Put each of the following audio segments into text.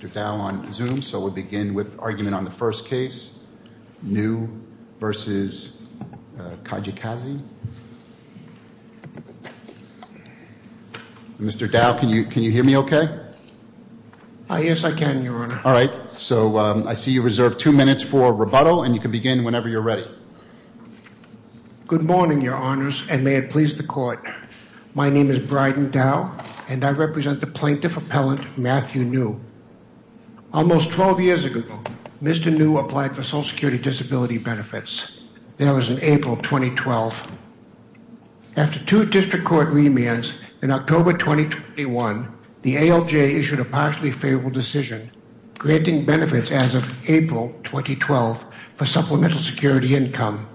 Good morning, your honors, and may it please the court. My name is Bryden Dow, and I represent the plaintiff appellant, Matthew New. Almost 12 years ago, Mr. New applied for Social Security Disability Benefits. That was in April 2012. After two district court remands, in October 2021, the ALJ issued a partially favorable decision, granting benefits as of April 2012 for supplemental security income.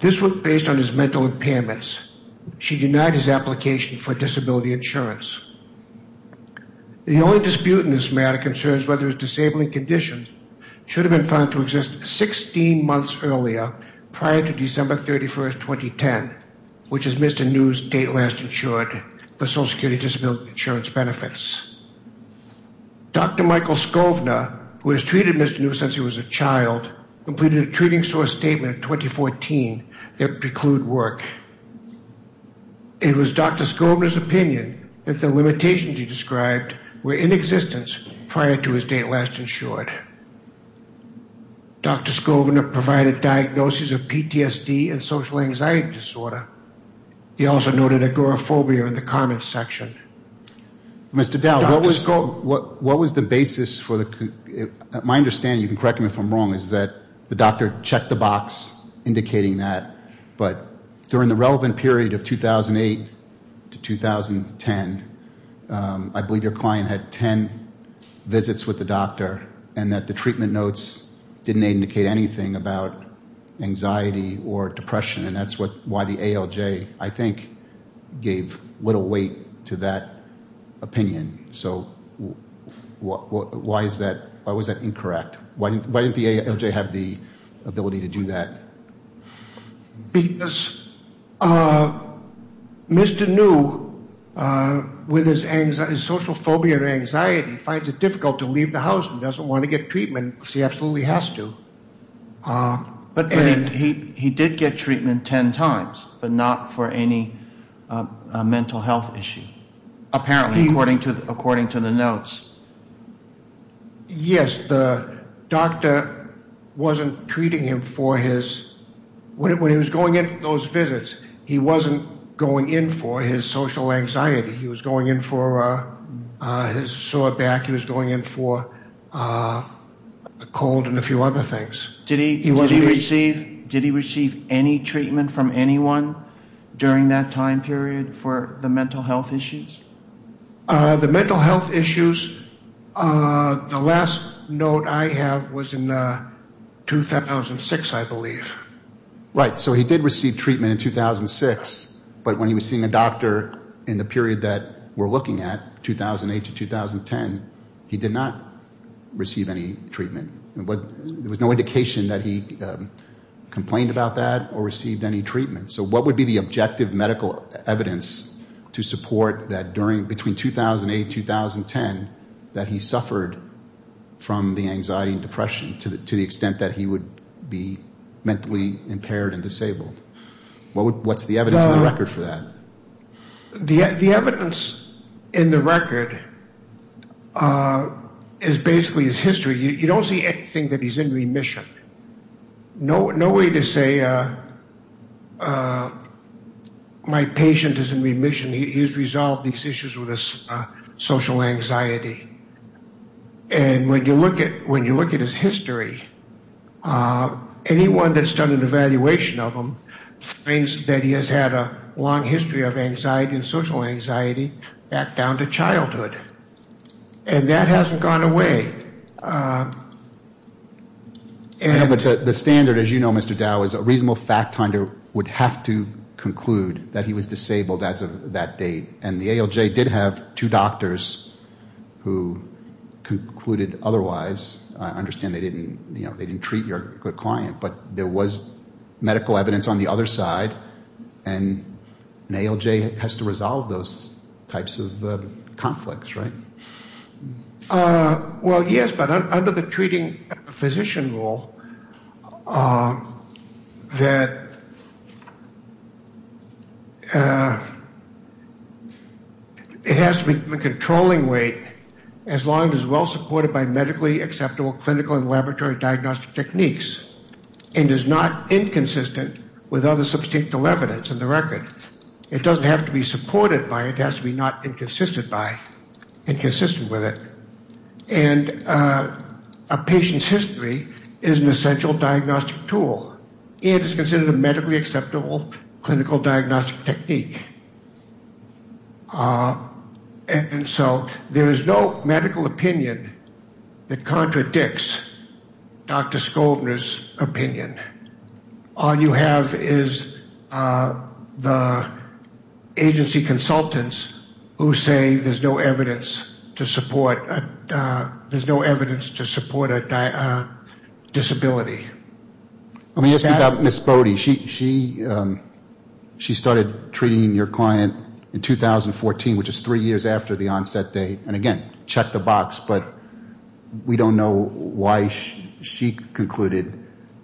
This was based on his mental impairments. She denied his application for disability insurance. The only dispute in this matter concerns whether his disabling condition should have been found to exist 16 months earlier, prior to December 31, 2010, which is Mr. New's date last insured for Social Security Disability Insurance benefits. Dr. Michael Skovner, who has treated Mr. New since he was a child, a treating source statement in 2014 that preclude work. It was Dr. Skovner's opinion that the limitations he described were in existence prior to his date last insured. Dr. Skovner provided diagnosis of PTSD and social anxiety disorder. He also noted agoraphobia in the comments section. Mr. Dow, what was the basis for the, my understanding, you can correct me if I'm wrong, is that the doctor checked the box indicating that, but during the relevant period of 2008 to 2010, I believe your client had ten visits with the doctor and that the treatment notes didn't indicate anything about anxiety or depression and that's why the ALJ, I think, gave little weight to that opinion. So why is that, why was that incorrect? Why didn't the ALJ have the ability to do that? Because Mr. New, with his social phobia or anxiety, finds it difficult to leave the house and doesn't want to get treatment because he absolutely has to. But he did get treatment ten times, but not for any mental health issue, apparently, according to the notes. Yes, the doctor wasn't treating him for his, when he was going in for those visits, he wasn't going in for his social anxiety. He was going in for his cold and a few other things. Did he receive any treatment from anyone during that time period for the mental health issues? The mental health issues, the last note I have was in 2006, I believe. Right, so he did receive treatment in 2006, but when he was seeing a doctor in the hospital, there was no indication that he complained about that or received any treatment. So what would be the objective medical evidence to support that during, between 2008 and 2010, that he suffered from the anxiety and depression to the extent that he would be mentally impaired and disabled? What's the evidence in the record for that? The evidence in the record is basically his history. You don't see anything that he's in remission. No way to say my patient is in remission. He's resolved these issues with his social anxiety. And when you look at his history, anyone that's done an evaluation of him finds that he has had a long history of anxiety and social anxiety back down to childhood. And that hasn't gone away. The standard, as you know, Mr. Dow, is a reasonable fact finder would have to conclude that he was disabled as of that date. And the ALJ did have two doctors who concluded otherwise. I understand they didn't treat your client, but there was medical evidence to resolve those types of conflicts, right? Well, yes, but under the treating physician rule, that it has to be a controlling weight as long as it's well supported by medically acceptable clinical and laboratory diagnostic techniques and is not supported by it, it has to be not inconsistent with it. And a patient's history is an essential diagnostic tool and is considered a medically acceptable clinical diagnostic technique. And so there is no medical opinion that contradicts Dr. Skovner's opinion. All you have is the agency consultants who say there's no evidence to support a disability. Let me ask you about Ms. Bode. She started treating your client in 2014, which is three years after the But we don't know why she concluded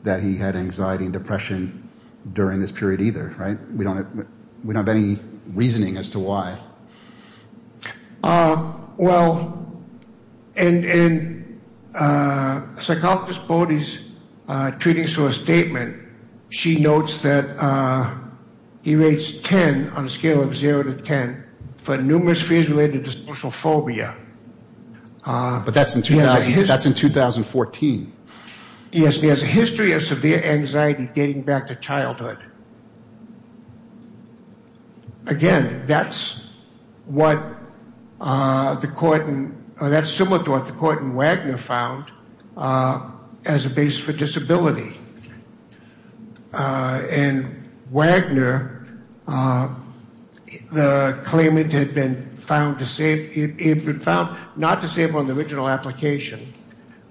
that he had anxiety and depression during this period either, right? We don't have any reasoning as to why. Well, in psychologist Bode's treating source statement, she notes that he rates 10 on a scale of zero to 10 for numerous fears related to social phobia. But that's in 2014. Yes, he has a history of severe anxiety dating back to childhood. Again, that's what the court in, that's similar to what the court in Wagner found as a base for disability. In Wagner, the claimant had been found, not disabled in the original application,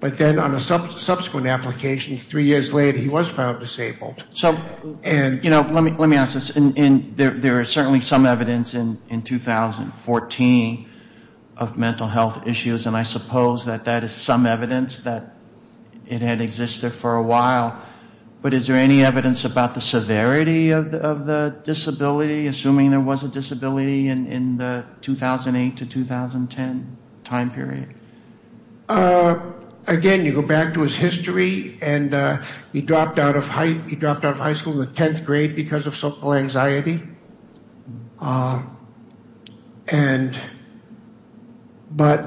but then on a subsequent application three years later, he was found disabled. So, let me ask this. There is certainly some evidence in 2014 of mental health issues, and I suppose that that is some evidence that it had existed for a while. But is there any evidence about the severity of the disability, assuming there was a disability in the 2008 to 2010 time period? Again, you go back to his history, and he dropped out of high school in the 10th grade because of social anxiety. And, but,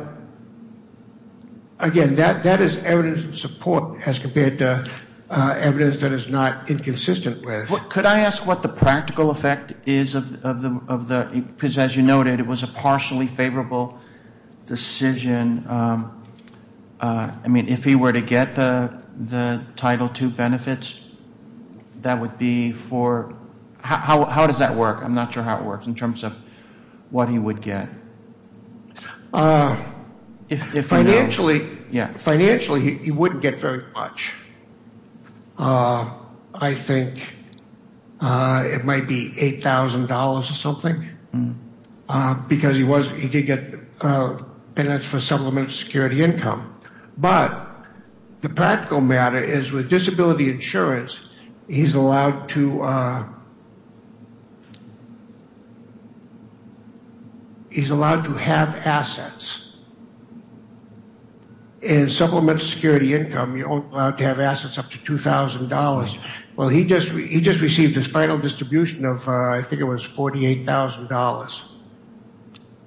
again, that is evidence of support as compared to evidence that is not inconsistent with. Could I ask what the practical effect is of the, because as you noted, it was a partially favorable decision. I mean, if he were to get the Title II benefits, that would be for, how does that work? I'm not sure how it works in terms of what he would get. Financially, he wouldn't get very much. I think it might be $8,000 or something, because he did get benefits for supplementary security income. But, the practical matter is with disability insurance, he is allowed to have assets. In supplementary security income, you are only allowed to have assets up to $2,000. Well, he just received his final distribution of, I think it was $48,000.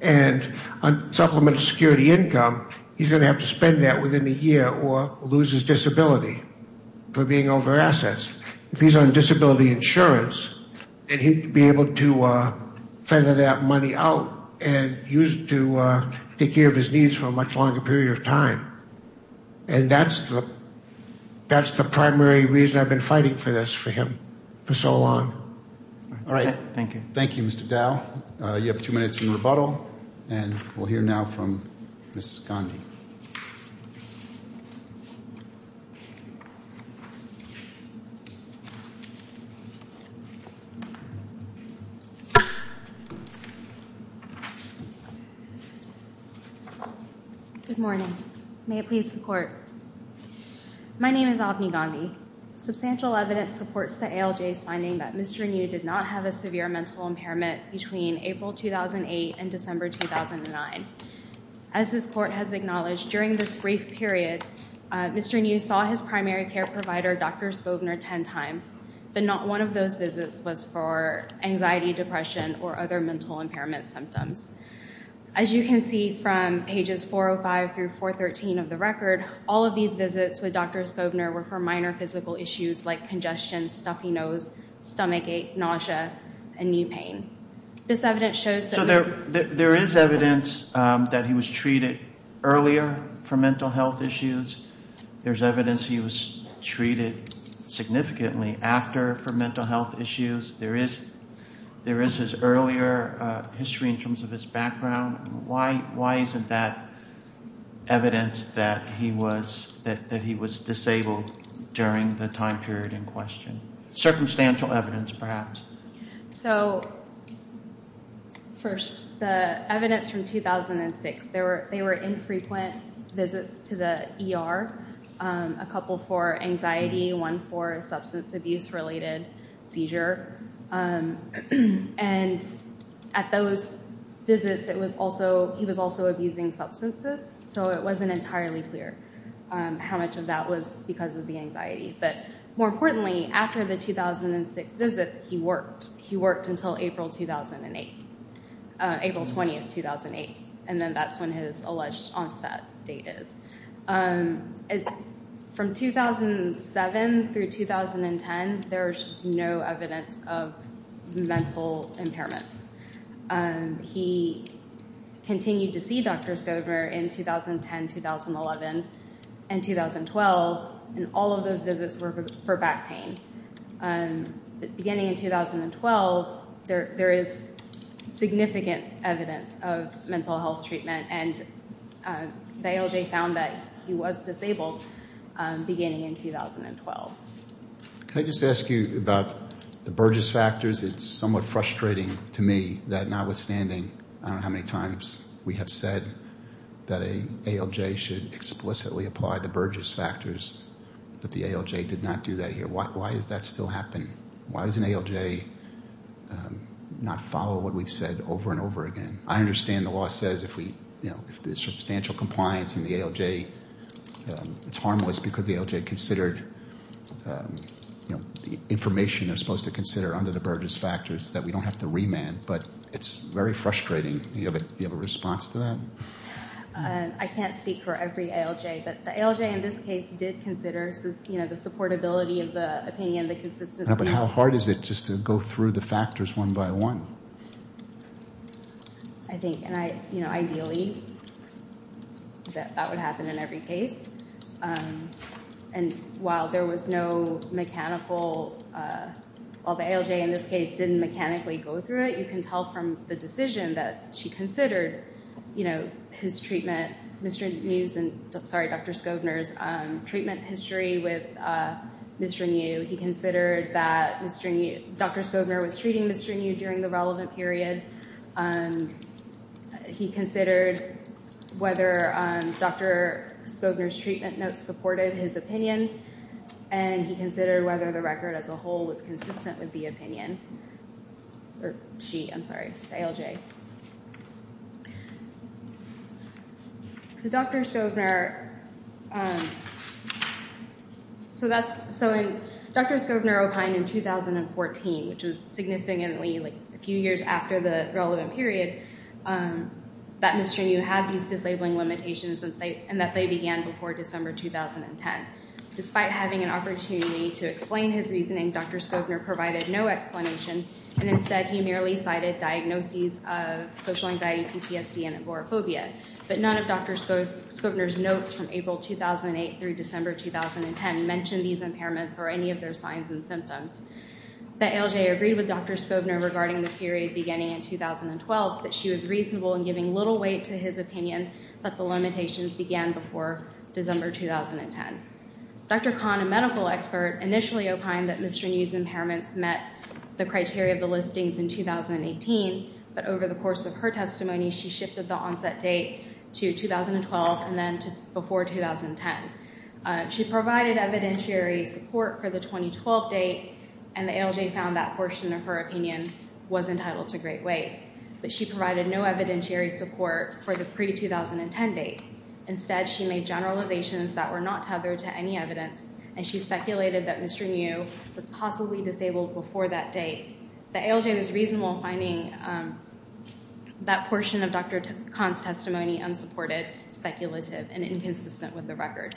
And, on supplementary security income, he is going to have to spend that within a year or lose his disability for being over assets. If he is on disability insurance, then he would be able to feather that money out and use it to take care of his needs for a much longer period of time. And that is the primary reason I have been fighting for this for him for so long. All right. Thank you. Thank you, Mr. Dow. You have two minutes in rebuttal, and we will hear now from Ms. Gondi. Good morning. May it please the Court. My name is Avni Gondi. Substantial evidence supports the ALJ's finding that Mr. New did not have a severe mental impairment between April 2008 and December 2009. As this Court has acknowledged, during this brief period, Mr. New saw his primary care provider, Dr. Skobner, 10 times, but not one of those visits was for anxiety, depression, or other mental impairment symptoms. As you can see from pages 405 through 413 of the record, all of these visits with Dr. Skobner were for minor physical issues like congestion, stuffy nose, stomach ache, nausea, and knee pain. This evidence shows that... So there is evidence that he was treated earlier for mental health issues. There is evidence he was treated significantly after for mental health issues. There is his earlier history in terms of his background. Why isn't that evidence that he was disabled during the time period in question? Circumstantial evidence, perhaps. So, first, the evidence from 2006. They were infrequent visits to the ER, a couple for anxiety, one for substance abuse-related seizure. And at those visits, he was also abusing substances, so it wasn't entirely clear how much of that was because of the anxiety. But more importantly, after the 2006 visits, he worked. He worked until April 2008, April 20, 2008, and then that's when his alleged onset date is. From 2007 through 2010, there's no evidence of mental impairments. He continued to see Dr. Skobner in 2010, 2011, and 2012. And all of those visits were for back pain. Beginning in 2012, there is significant evidence of mental health treatment, and the ALJ found that he was disabled beginning in 2012. Can I just ask you about the Burgess factors? It's somewhat frustrating to me that notwithstanding how many times we have said that an ALJ should explicitly apply the Burgess factors, that the ALJ did not do that here. Why does that still happen? Why does an ALJ not follow what we've said over and over again? I understand the law says if there's substantial compliance in the ALJ, it's harmless because the ALJ considered the information they're supposed to consider under the Burgess factors, that we don't have to remand. But it's very frustrating. Do you have a response to that? I can't speak for every ALJ, but the ALJ in this case did consider the supportability of the opinion, the consistency of the opinion. How hard is it just to go through the factors one by one? Ideally, that would happen in every case. While the ALJ in this case didn't mechanically go through it, you can tell from the decision that she considered Dr. Scogner's treatment history with Mr. New. He considered that Dr. Scogner was treating Mr. New during the relevant period. He considered whether Dr. Scogner's treatment notes supported his opinion. And he considered whether the record as a whole was consistent with the opinion. Or she, I'm sorry, the ALJ. Okay. So Dr. Scogner, so that's, so Dr. Scogner opined in 2014, which was significantly, like a few years after the relevant period, that Mr. New had these disabling limitations and that they began before December 2010. Despite having an opportunity to explain his reasoning, Dr. Scogner provided no explanation, and instead he merely cited diagnoses of social anxiety, PTSD, and agoraphobia. But none of Dr. Scogner's notes from April 2008 through December 2010 mentioned these impairments or any of their signs and symptoms. The ALJ agreed with Dr. Scogner regarding the period beginning in 2012, that she was reasonable in giving little weight to his opinion that the limitations began before December 2010. Dr. Kahn, a medical expert, initially opined that Mr. New's impairments met the criteria of the listings in 2018, but over the course of her testimony she shifted the onset date to 2012 and then to before 2010. She provided evidentiary support for the 2012 date, and the ALJ found that portion of her opinion was entitled to great weight. But she provided no evidentiary support for the pre-2010 date. Instead, she made generalizations that were not tethered to any evidence, and she speculated that Mr. New was possibly disabled before that date. The ALJ was reasonable in finding that portion of Dr. Kahn's testimony unsupported, speculative, and inconsistent with the record.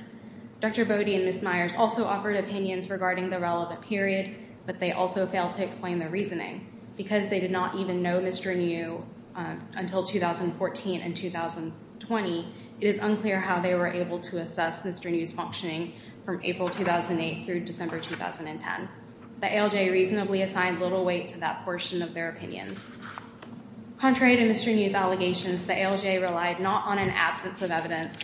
Dr. Bode and Ms. Myers also offered opinions regarding the relevant period, but they also failed to explain their reasoning. Because they did not even know Mr. New until 2014 and 2020, it is unclear how they were able to assess Mr. New's functioning from April 2008 through December 2010. The ALJ reasonably assigned little weight to that portion of their opinions. Contrary to Mr. New's allegations, the ALJ relied not on an absence of evidence,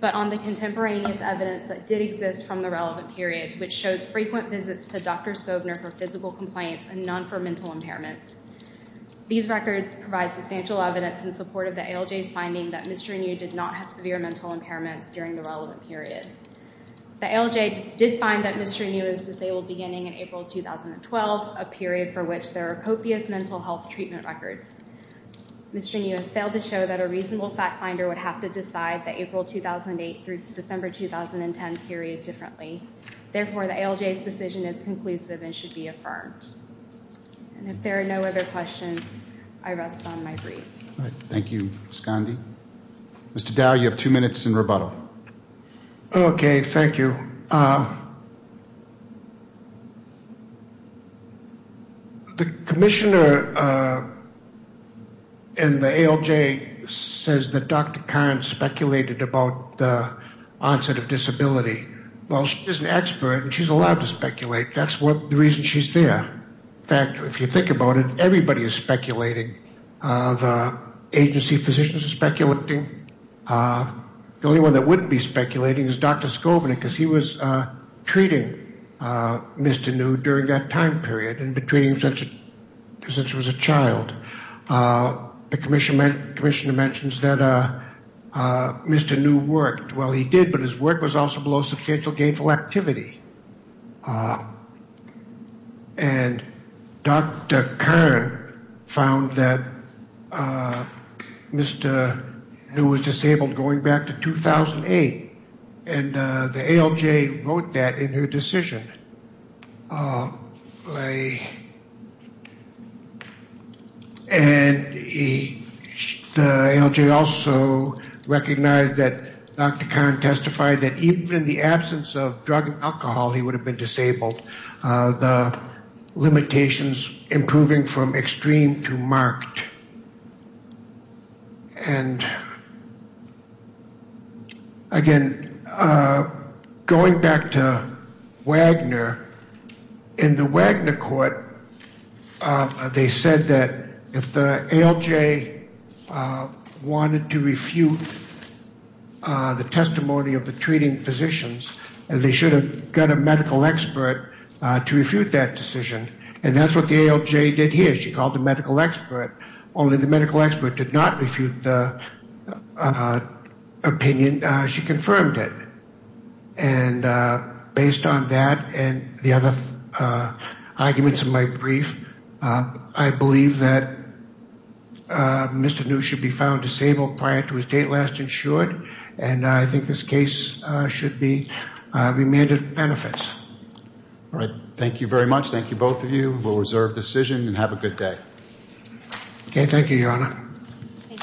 but on the contemporaneous evidence that did exist from the relevant period, which shows frequent visits to Dr. Skovner for physical complaints and none for mental impairments. These records provide substantial evidence in support of the ALJ's finding that Mr. New did not have severe mental impairments during the relevant period. The ALJ did find that Mr. New was disabled beginning in April 2012, a period for which there are copious mental health treatment records. Mr. New has failed to show that a reasonable fact finder would have to decide the April 2008 through December 2010 period differently. Therefore, the ALJ's decision is conclusive and should be affirmed. And if there are no other questions, I rest on my breath. Thank you, Ms. Gandhi. Mr. Dow, you have two minutes in rebuttal. Okay, thank you. The commissioner in the ALJ says that Dr. Curran speculated about the onset of disability while she's an expert and she's allowed to speculate. That's the reason she's there. In fact, if you think about it, everybody is speculating. The agency physicians are speculating. The only one that wouldn't be speculating is Dr. Skovner because he was treating Mr. New during that time period and had been treating him since he was a child. The commissioner mentions that Mr. New worked. Well, he did, but his work was also below substantial gainful activity. And Dr. Curran found that Mr. New was disabled going back to 2008. And the ALJ wrote that in her decision. And the ALJ also recognized that Dr. Curran testified that even in the absence of drug and alcohol, he would have been disabled, the limitations improving from extreme to marked. And, again, going back to Wagner, in the Wagner court, they said that if the ALJ wanted to refute the testimony of the treating physicians, they should have got a medical expert to refute that decision. And that's what the ALJ did here. She called the medical expert. Only the medical expert did not refute the opinion. She confirmed it. And based on that and the other arguments in my brief, I believe that Mr. New should be found disabled prior to his date last insured. And I think this case should be remanded for benefits. All right. Thank you very much. Thank you, both of you. We'll reserve decision and have a good day. Okay.